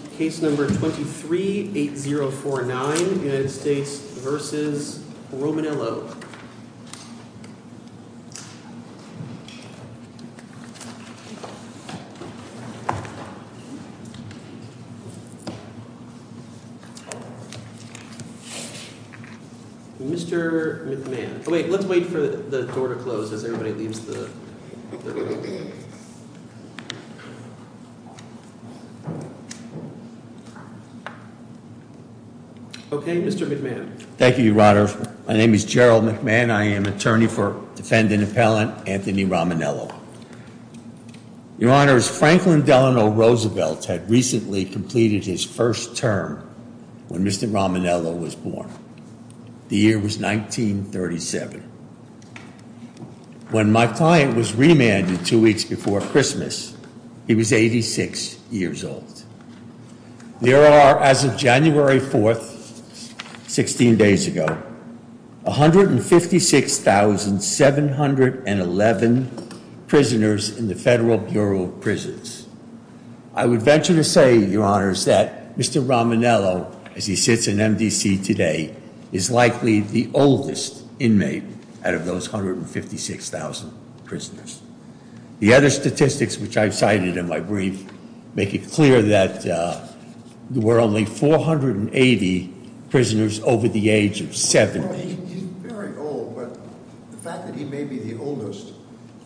Mr. McMahon, let's wait for the door to close as everybody leaves the room. Okay, Mr. McMahon. Thank you, Your Honor. My name is Gerald McMahon. I am attorney for defendant appellant Anthony Romanello. Your Honor, Franklin Delano Roosevelt had recently completed his first term when Mr. Romanello was born. The year was 1937. When my client was remanded two weeks before Christmas, he was 86 years old. There are, as of January 4th, 16 days ago, 156,711 prisoners in the Federal Bureau of Prisons. I would venture to say, Your Honors, that Mr. Romanello, as he sits in MDC today, is likely the oldest inmate out of those 156,000 prisoners. The other statistics which I've cited in my brief make it clear that there were only 480 prisoners over the age of 70. He's very old, but the fact that he may be the oldest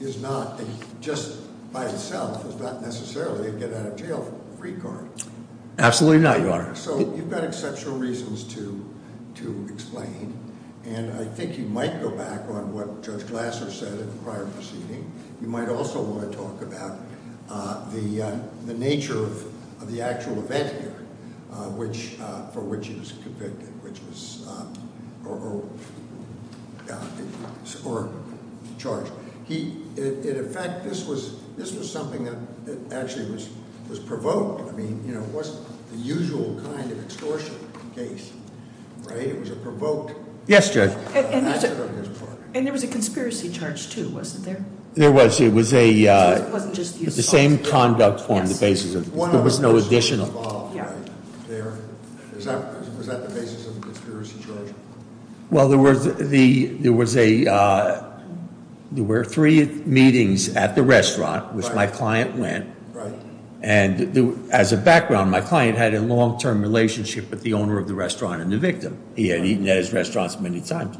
is not, just by itself, is not necessarily a get-out-of-jail-free card. Absolutely not, Your Honor. So you've got exceptional reasons to explain, and I think you might go back on what Judge Glasser said in the prior proceeding. You might also want to talk about the nature of the actual event here for which he was convicted or charged. In effect, this was something that actually was provoked. I mean, it wasn't the usual kind of extortion case, right? It was a provoked- Yes, Judge. And there was a conspiracy charge, too, wasn't there? There was. It was the same conduct form, the basis of it. There was no additional. Was that the basis of the conspiracy charge? Well, there were three meetings at the restaurant which my client went. And as a background, my client had a long-term relationship with the owner of the restaurant and the victim. He had eaten at his restaurant many times.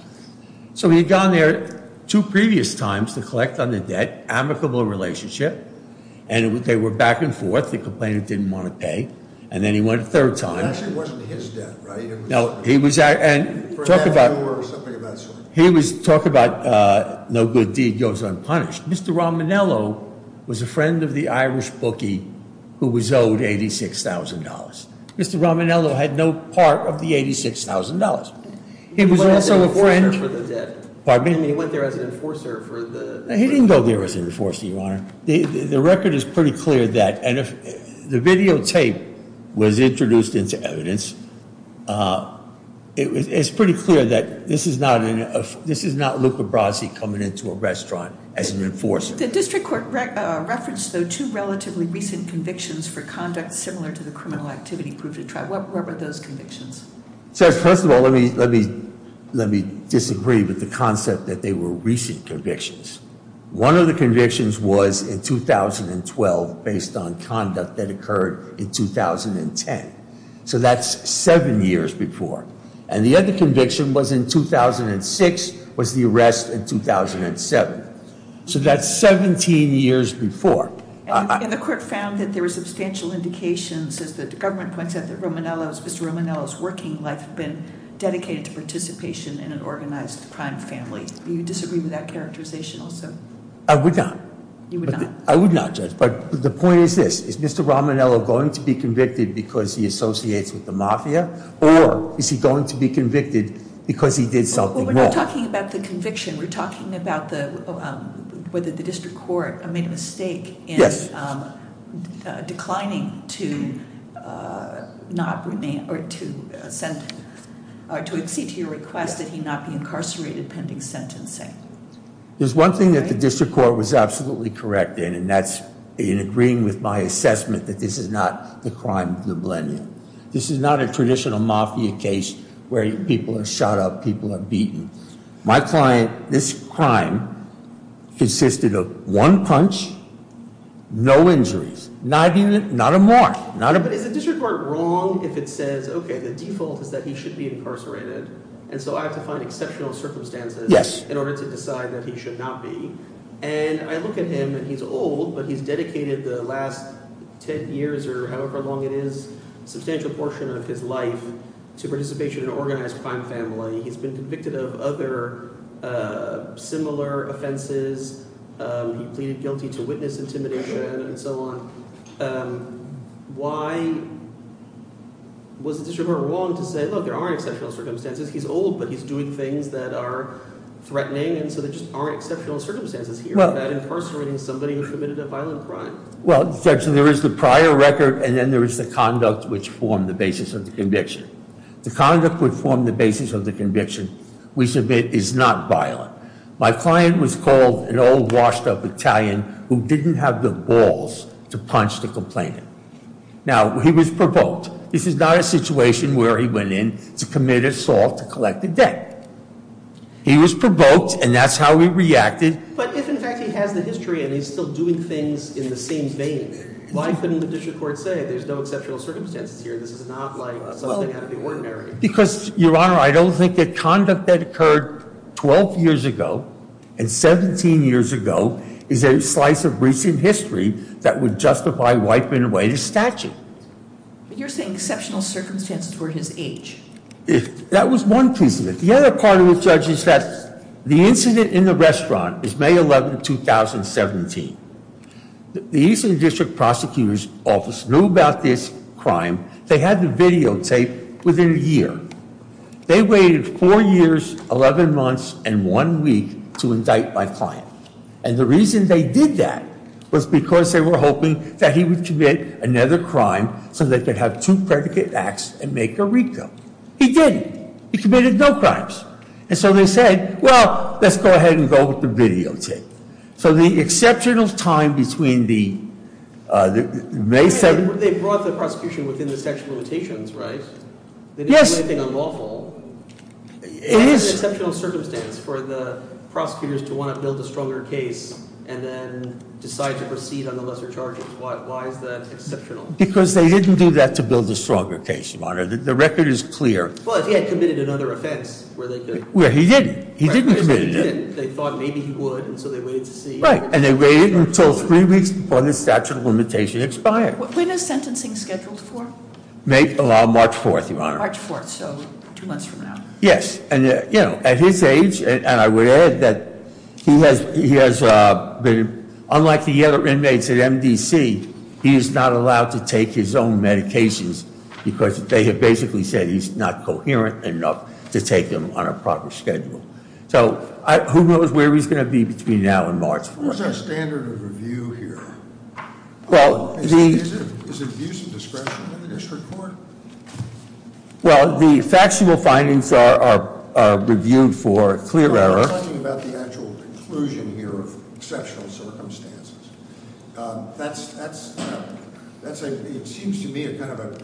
So he had gone there two previous times to collect on the debt, amicable relationship. And they were back and forth. The complainant didn't want to pay. And then he went a third time. It actually wasn't his debt, right? No, he was- For half an hour or something of that sort. He was talking about no good deed goes unpunished. Mr. Rominello was a friend of the Irish bookie who was owed $86,000. Mr. Rominello had no part of the $86,000. He was also a friend- He went there as an enforcer for the debt. Pardon me? I mean, he went there as an enforcer for the- He didn't go there as an enforcer, Your Honor. The record is pretty clear that. And the videotape was introduced into evidence. It's pretty clear that this is not Luca Brasi coming into a restaurant as an enforcer. The district court referenced, though, two relatively recent convictions for conduct similar to the criminal activity group. What were those convictions? First of all, let me disagree with the concept that they were recent convictions. One of the convictions was in 2012 based on conduct that occurred in 2010. So that's seven years before. And the other conviction was in 2006, was the arrest in 2007. So that's 17 years before. And the court found that there were substantial indications, as the government points out, that Mr. Rominello's working life had been dedicated to participation in an organized crime family. Do you disagree with that characterization also? I would not. You would not? I would not, Judge. But the point is this. Is Mr. Rominello going to be convicted because he associates with the mafia? Or is he going to be convicted because he did something wrong? We're talking about the conviction. We're talking about whether the district court made a mistake in declining to exceed to your request that he not be incarcerated pending sentencing. There's one thing that the district court was absolutely correct in, and that's in agreeing with my assessment that this is not the crime of the millennium. This is not a traditional mafia case where people are shot up, people are beaten. My client, this crime consisted of one punch, no injuries, not a mark. But is the district court wrong if it says, okay, the default is that he should be incarcerated, and so I have to find exceptional circumstances in order to decide that he should not be? And I look at him, and he's old, but he's dedicated the last ten years or however long it is, a substantial portion of his life to participation in organized crime family. He's been convicted of other similar offenses. He pleaded guilty to witness intimidation and so on. Why was the district court wrong to say, look, there are exceptional circumstances. He's old, but he's doing things that are threatening, and so there just aren't exceptional circumstances here about incarcerating somebody who committed a violent crime. Well, Judge, there is the prior record, and then there is the conduct which formed the basis of the conviction. The conduct which formed the basis of the conviction, we submit, is not violent. My client was called an old, washed-up Italian who didn't have the balls to punch the complainant. Now, he was provoked. This is not a situation where he went in to commit assault to collect the debt. He was provoked, and that's how he reacted. But if, in fact, he has the history and he's still doing things in the same vein, why couldn't the district court say there's no exceptional circumstances here, this is not like something out of the ordinary? Because, Your Honor, I don't think that conduct that occurred 12 years ago and 17 years ago is a slice of recent history that would justify wiping away the statute. But you're saying exceptional circumstances were his age. That was one piece of it. The other part of it, Judge, is that the incident in the restaurant is May 11, 2017. The Eastern District Prosecutor's Office knew about this crime. They had the videotape within a year. They waited four years, 11 months, and one week to indict my client. And the reason they did that was because they were hoping that he would commit another crime so they could have two predicate acts and make a recoup. He didn't. He committed no crimes. And so they said, well, let's go ahead and go with the videotape. So the exceptional time between the May 7th— They brought the prosecution within the statute of limitations, right? Yes. They didn't do anything unlawful. It is an exceptional circumstance for the prosecutors to want to build a stronger case and then decide to proceed on the lesser charges. Why is that exceptional? Because they didn't do that to build a stronger case, Your Honor. The record is clear. Well, if he had committed another offense where they could— Well, he didn't. He didn't commit it. They thought maybe he would, and so they waited to see. Right. And they waited until three weeks before the statute of limitations expired. When is sentencing scheduled for? March 4th, Your Honor. March 4th, so two months from now. Yes. And, you know, at his age, and I would add that he has been— Unlike the other inmates at MDC, he is not allowed to take his own medications because they have basically said he's not coherent enough to take them on a proper schedule. So who knows where he's going to be between now and March 4th. What is our standard of review here? Well, the— Well, the factual findings are reviewed for clear error. We're not talking about the actual conclusion here of exceptional circumstances. That's—it seems to me kind of a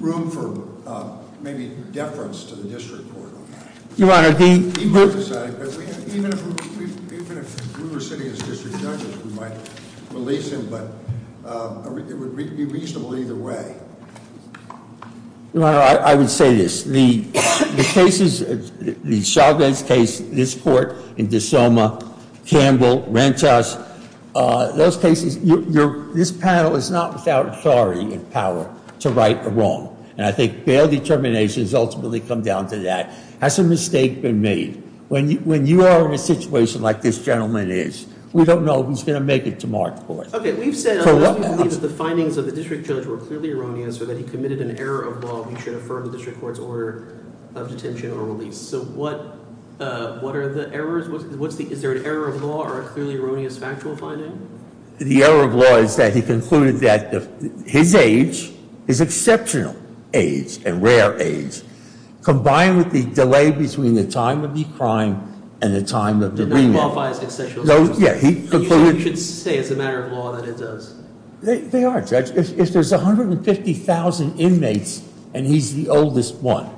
room for maybe deference to the district court on that. Your Honor, the— Even if Ruler City is district judge, we might release him, but it would be reasonable either way. Your Honor, I would say this. The cases—the Chagas case, this court in DeSoma, Campbell, Rentas, those cases, this panel is not without authority and power to right the wrong. And I think fair determination has ultimately come down to that. Has a mistake been made? When you are in a situation like this gentleman is, we don't know if he's going to make it to March 4th. Okay, we've said that the findings of the district judge were clearly erroneous or that he committed an error of law. He should affirm the district court's order of detention or release. So what are the errors? Is there an error of law or a clearly erroneous factual finding? The error of law is that he concluded that his age, his exceptional age and rare age, combined with the delay between the time of the crime and the time of the remand— Did not qualify as exceptional circumstances? No, yeah, he concluded— They are, Judge. If there's 150,000 inmates and he's the oldest one,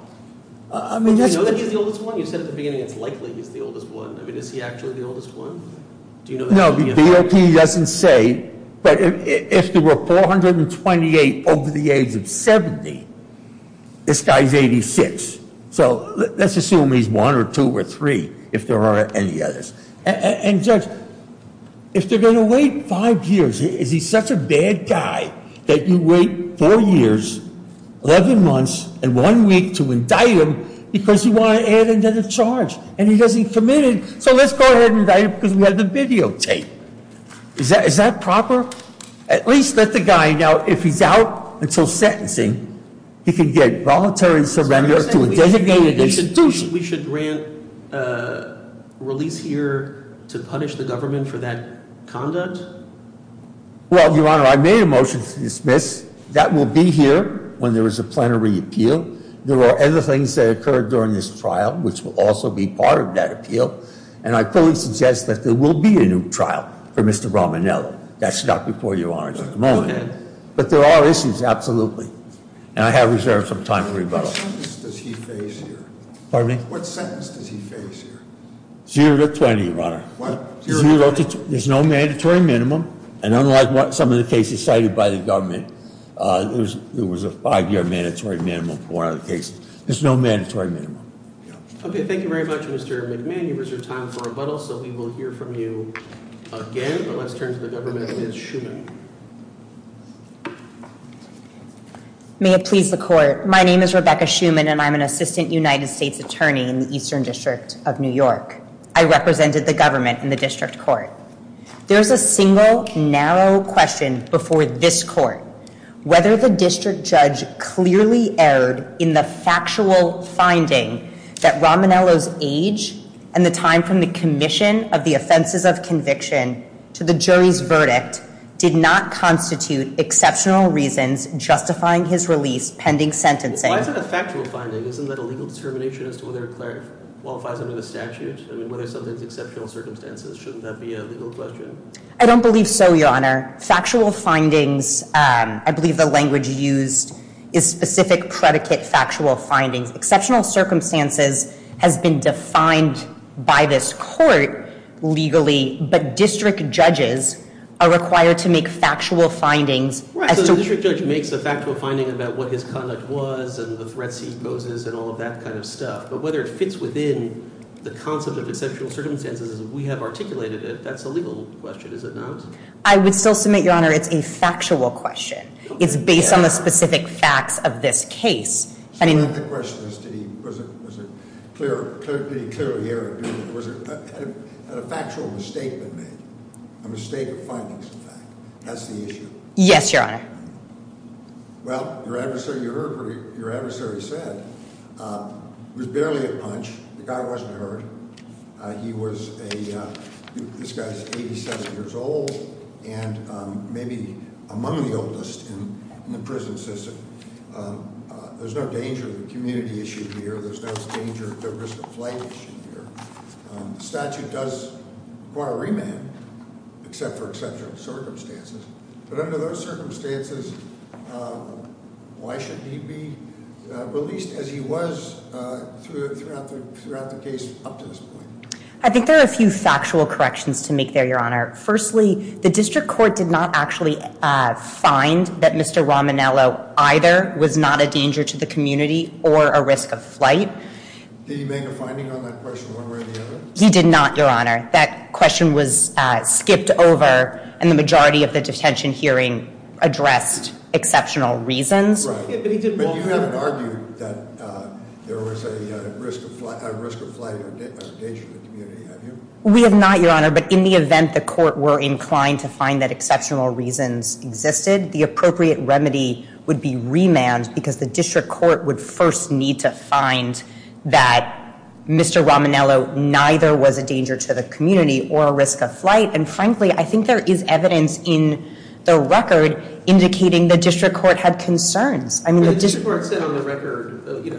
I mean— Do you know that he's the oldest one? You said at the beginning it's likely he's the oldest one. I mean, is he actually the oldest one? No, the DOP doesn't say. But if there were 428 over the age of 70, this guy's 86. So let's assume he's one or two or three, if there are any others. And, Judge, if they're going to wait five years, is he such a bad guy that you wait four years, 11 months and one week to indict him because you want to add another charge and he doesn't commit it? So let's go ahead and indict him because we have the videotape. Is that proper? At least let the guy know if he's out until sentencing, he can get voluntary surrender to a designated institution. Do you think we should grant release here to punish the government for that conduct? Well, Your Honor, I made a motion to dismiss. That will be here when there is a plenary appeal. There are other things that occurred during this trial, which will also be part of that appeal. And I fully suggest that there will be a new trial for Mr. Romanello. That's not before Your Honor at the moment. But there are issues, absolutely. And I have reserved some time for rebuttal. What sentence does he face here? Pardon me? What sentence does he face here? Zero to 20, Your Honor. What? Zero to 20? There's no mandatory minimum. And unlike some of the cases cited by the government, there was a five-year mandatory minimum for one of the cases. There's no mandatory minimum. Okay, thank you very much, Mr. McMahon. You've reserved time for rebuttal, so we will hear from you again. But let's turn to the government and Ms. Schuman. May it please the Court. My name is Rebecca Schuman, and I'm an assistant United States attorney in the Eastern District of New York. I represented the government in the district court. There is a single, narrow question before this court. Whether the district judge clearly erred in the factual finding that Romanello's age and the time from the commission of the offenses of conviction to the jury's verdict did not constitute exceptional reasons justifying his release pending sentencing. Well, why is it a factual finding? Isn't that a legal determination as to whether a clerk qualifies under the statute? I mean, whether something's exceptional circumstances. Shouldn't that be a legal question? I don't believe so, Your Honor. Factual findings, I believe the language used is specific predicate factual findings. Exceptional circumstances has been defined by this court legally, but district judges are required to make factual findings. Right, so the district judge makes a factual finding about what his conduct was and the threats he poses and all of that kind of stuff. But whether it fits within the concept of exceptional circumstances as we have articulated it, that's a legal question, is it not? I would still submit, Your Honor, it's a factual question. It's based on the specific facts of this case. So my question is, did he clearly hear it? Had a factual mistake been made? A mistake of findings, in fact? That's the issue? Yes, Your Honor. Well, your adversary said it was barely a punch. The guy wasn't hurt. He was a, this guy's 87 years old and maybe among the oldest in the prison system. There's no danger of a community issue here. There's no risk of flight issue here. The statute does require remand, except for exceptional circumstances. But under those circumstances, why should he be released as he was throughout the case up to this point? I think there are a few factual corrections to make there, Your Honor. Firstly, the district court did not actually find that Mr. Rominello either was not a danger to the community or a risk of flight. Did he make a finding on that question one way or the other? He did not, Your Honor. That question was skipped over and the majority of the detention hearing addressed exceptional reasons. Right, but you haven't argued that there was a risk of flight or danger to the community, have you? We have not, Your Honor. But in the event the court were inclined to find that exceptional reasons existed, the appropriate remedy would be remand because the district court would first need to find that Mr. Rominello neither was a danger to the community or a risk of flight. And frankly, I think there is evidence in the record indicating the district court had concerns. The district court said on the record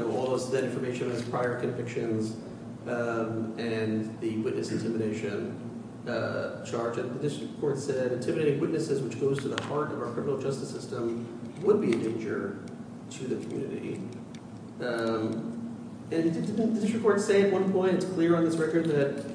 all of that information was prior convictions and the witness intimidation charge. And the district court said intimidating witnesses, which goes to the heart of our criminal justice system, would be a danger to the community. And didn't the district court say at one point, it's clear on this record that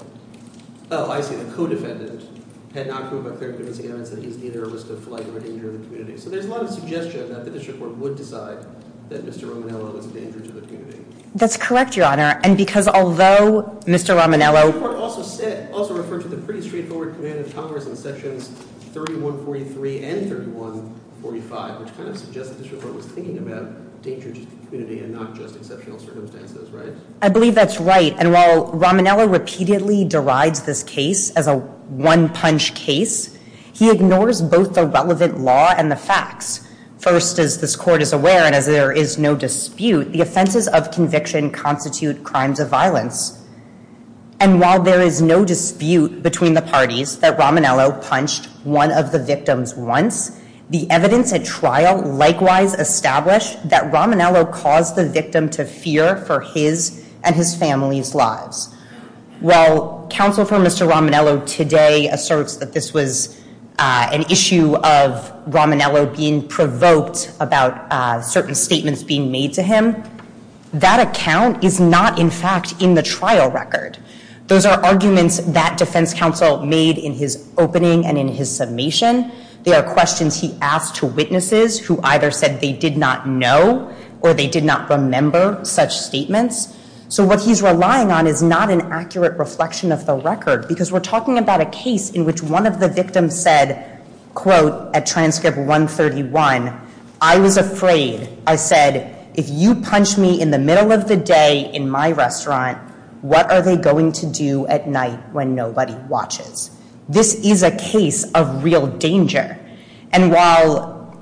– oh, I see. The co-defendant had not proved a clear evidence against him that he was neither a risk of flight nor a danger to the community. So there's a lot of suggestion that the district court would decide that Mr. Rominello was a danger to the community. That's correct, Your Honor. And because although Mr. Rominello – The district court also referred to the pretty straightforward command of Congress in sections 3143 and 3145, which kind of suggests that the district court was thinking about danger to the community and not just exceptional circumstances, right? I believe that's right. And while Rominello repeatedly derides this case as a one-punch case, he ignores both the relevant law and the facts. First, as this court is aware and as there is no dispute, the offenses of conviction constitute crimes of violence. And while there is no dispute between the parties that Rominello punched one of the victims once, the evidence at trial likewise established that Rominello caused the victim to fear for his and his family's lives. While counsel for Mr. Rominello today asserts that this was an issue of Rominello being provoked about certain statements being made to him, that account is not, in fact, in the trial record. Those are arguments that defense counsel made in his opening and in his summation. They are questions he asked to witnesses who either said they did not know or they did not remember such statements. So what he's relying on is not an accurate reflection of the record, because we're talking about a case in which one of the victims said, quote, at transcript 131, I was afraid, I said, if you punch me in the middle of the day in my restaurant, what are they going to do at night when nobody watches? This is a case of real danger. And while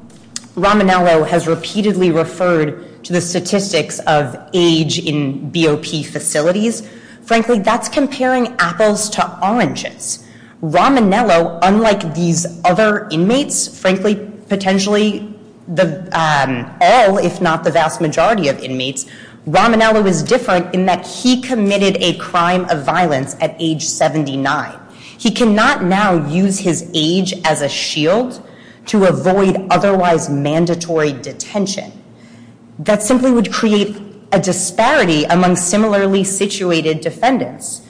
Rominello has repeatedly referred to the statistics of age in BOP facilities, frankly, that's comparing apples to oranges. Rominello, unlike these other inmates, frankly, potentially all, if not the vast majority of inmates, Rominello is different in that he committed a crime of violence at age 79. He cannot now use his age as a shield to avoid otherwise mandatory detention. That simply would create a disparity among similarly situated defendants.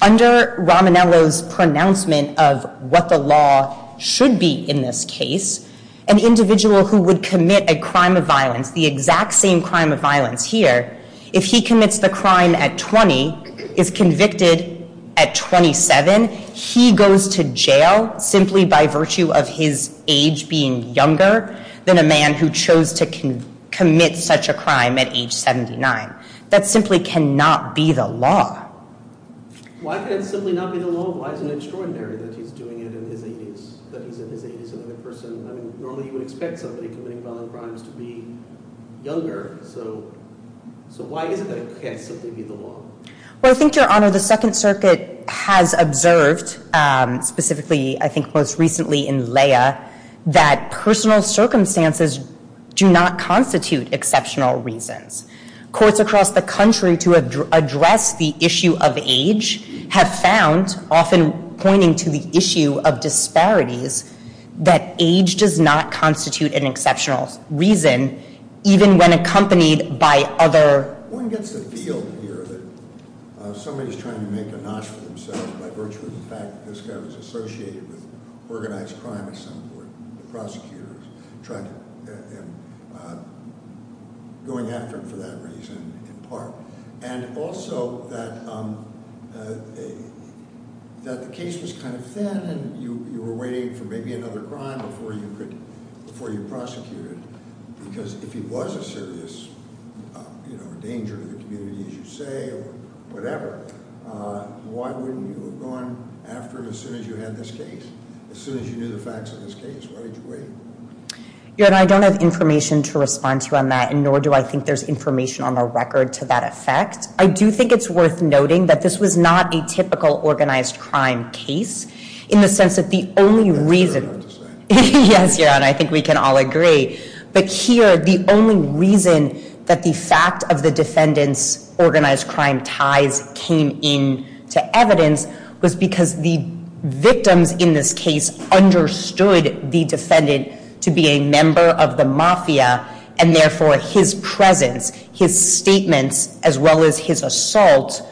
Under Rominello's pronouncement of what the law should be in this case, an individual who would commit a crime of violence, the exact same crime of violence here, if he commits the crime at 20, is convicted at 27, he goes to jail simply by virtue of his age being younger than a man who chose to commit such a crime at age 79. That simply cannot be the law. Why can it simply not be the law? Why is it extraordinary that he's doing it in his 80s? That he's in his 80s and a person, I mean, normally you would expect somebody committing violent crimes to be younger. So why is it that it can't simply be the law? Well, I think, Your Honor, the Second Circuit has observed, specifically, I think most recently in Leah, that personal circumstances do not constitute exceptional reasons. Courts across the country to address the issue of age have found, often pointing to the issue of disparities, that age does not constitute an exceptional reason even when accompanied by other- One gets the feel here that somebody's trying to make a notch for themselves by virtue of the fact that this guy was associated with organized crime at some point. The prosecutor is going after him for that reason in part. And also that the case was kind of thin and you were waiting for maybe another crime before you prosecuted because if he was a serious danger to the community, as you say, or whatever, why wouldn't you have gone after him as soon as you had this case? As soon as you knew the facts of this case? Why did you wait? Your Honor, I don't have information to respond to on that, and nor do I think there's information on the record to that effect. I do think it's worth noting that this was not a typical organized crime case in the sense that the only reason- That's fair enough to say. Yes, Your Honor, I think we can all agree. But here, the only reason that the fact of the defendant's organized crime ties came into evidence was because the victims in this case understood the defendant to be a member of the mafia and therefore his presence, his statements, as well as his assault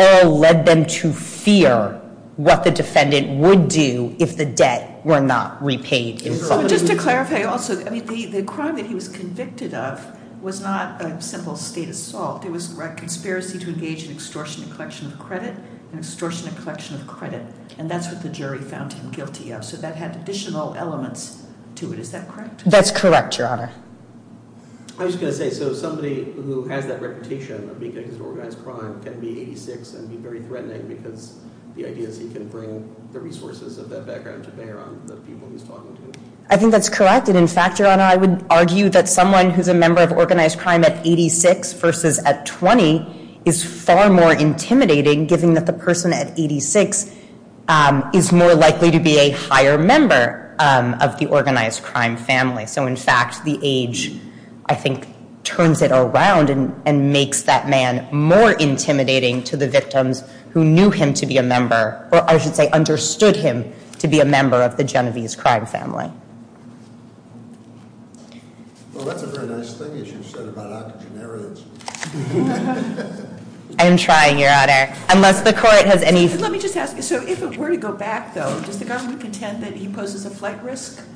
all led them to fear what the defendant would do if the debt were not repaid in full. Just to clarify also, the crime that he was convicted of was not a simple state assault. It was a conspiracy to engage in extortion and collection of credit, extortion and collection of credit. And that's what the jury found him guilty of. So that had additional elements to it. Is that correct? That's correct, Your Honor. I was just going to say, so somebody who has that reputation of being convicted of organized crime can be 86 and be very threatening because the idea is he can bring the resources of that background to bear on the people he's talking to. I think that's correct. And in fact, Your Honor, I would argue that someone who's a member of organized crime at 86 versus at 20 is far more intimidating, given that the person at 86 is more likely to be a higher member of the organized crime family. So in fact, the age, I think, turns it around and makes that man more intimidating to the victims who knew him to be a member, or I should say understood him to be a member of the Genovese crime family. Well, that's a very nice thing that you said about octogenarians. I'm trying, Your Honor. Unless the court has any... Let me just ask you, so if it were to go back, though, does the government contend that he poses a flight risk?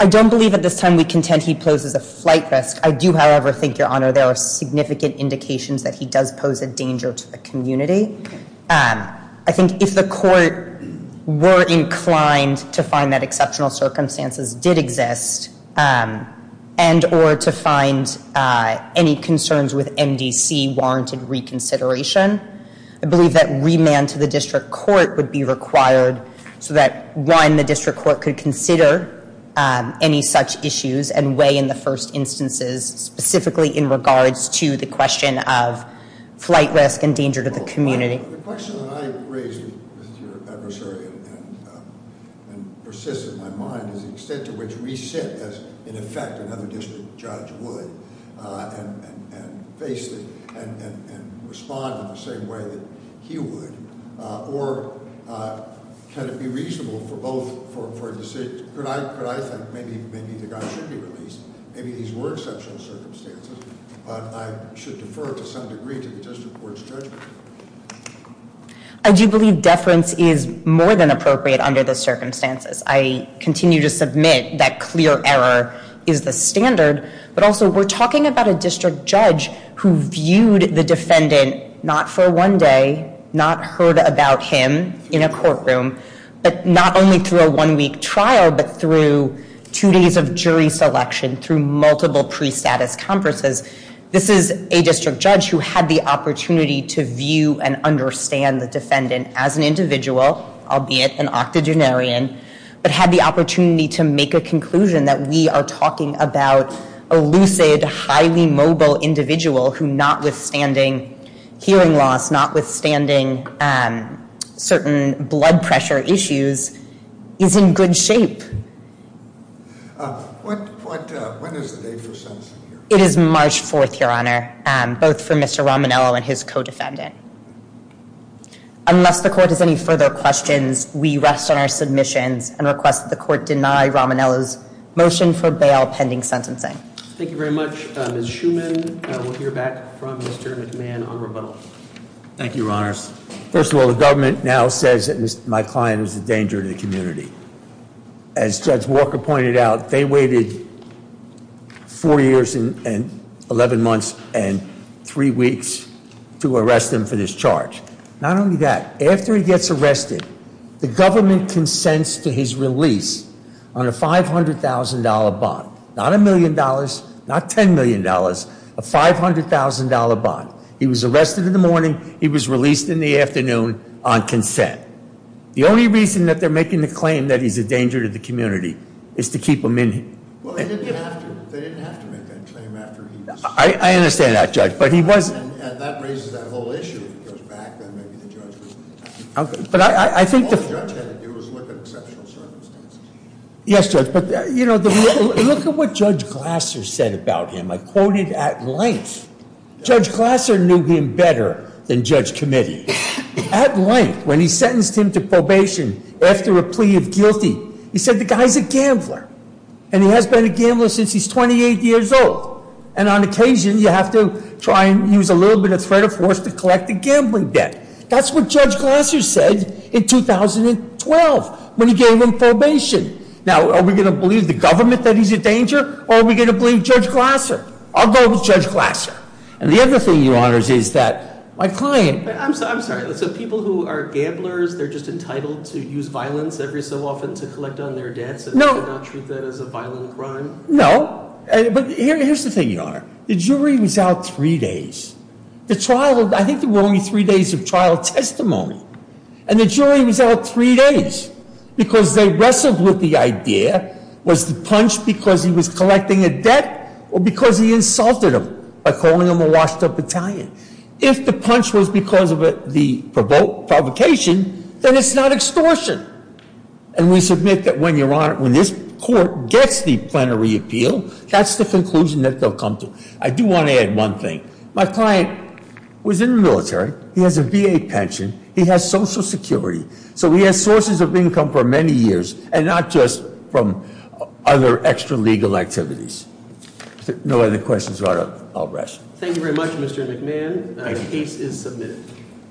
I don't believe at this time we contend he poses a flight risk. I do, however, think, Your Honor, there are significant indications that he does pose a danger to the community. I think if the court were inclined to find that exceptional circumstances did exist and or to find any concerns with MDC warranted reconsideration, I believe that remand to the district court would be required so that, one, the district court could consider any such issues and weigh in the first instances specifically in regards to the question of flight risk and danger to the community. The question that I raised with your adversary and persists in my mind is the extent to which we sit as, in effect, another district judge would and respond in the same way that he would. Or can it be reasonable for both for a decision? Could I think maybe the guy should be released? Maybe these were exceptional circumstances, but I should defer to some degree to the district court's judgment. I do believe deference is more than appropriate under the circumstances. I continue to submit that clear error is the standard, but also we're talking about a district judge who viewed the defendant not for one day, not heard about him in a courtroom, but not only through a one-week trial, but through two days of jury selection, through multiple pre-status conferences. This is a district judge who had the opportunity to view and understand the defendant as an individual, albeit an octogenarian, but had the opportunity to make a conclusion that we are talking about a lucid, highly mobile individual who, notwithstanding hearing loss, notwithstanding certain blood pressure issues, is in good shape. When is the date for sentencing here? It is March 4th, Your Honor, both for Mr. Rominello and his co-defendant. Unless the court has any further questions, we rest on our submissions and request that the court deny Rominello's motion for bail pending sentencing. Thank you very much. Ms. Schuman, we'll hear back from Mr. McMahon on rebuttal. Thank you, Your Honors. First of all, the government now says that my client is a danger to the community. As Judge Walker pointed out, they waited four years and 11 months and three weeks to arrest him for this charge. Not only that, after he gets arrested, the government consents to his release on a $500,000 bond, not $1 million, not $10 million, a $500,000 bond. He was arrested in the morning. He was released in the afternoon on consent. The only reason that they're making the claim that he's a danger to the community is to keep him in here. They didn't have to make that claim after he was- I understand that, Judge, but he was- That raises that whole issue. If he goes back, then maybe the judge will- But I think- All the judge had to do was look at exceptional circumstances. Yes, Judge, but look at what Judge Glasser said about him. I quoted at length. Judge Glasser knew him better than Judge Committee. At length, when he sentenced him to probation after a plea of guilty, he said, the guy's a gambler. And he has been a gambler since he's 28 years old. And on occasion, you have to try and use a little bit of threat of force to collect a gambling debt. That's what Judge Glasser said in 2012 when he gave him probation. Now, are we going to believe the government that he's a danger? Or are we going to believe Judge Glasser? I'll go with Judge Glasser. And the other thing, Your Honor, is that my client- I'm sorry. So people who are gamblers, they're just entitled to use violence every so often to collect on their debts and not treat that as a violent crime? No. But here's the thing, Your Honor. The jury was out three days. I think there were only three days of trial testimony. And the jury was out three days because they wrestled with the idea, was the punch because he was collecting a debt or because he insulted him by calling him a washed-up Italian? If the punch was because of the provocation, then it's not extortion. And we submit that when this court gets the plenary appeal, that's the conclusion that they'll come to. I do want to add one thing. My client was in the military. He has a VA pension. He has Social Security. So he has sources of income for many years and not just from other extra-legal activities. If there are no other questions, Your Honor, I'll rush. Thank you very much, Mr. McMahon. The case is submitted.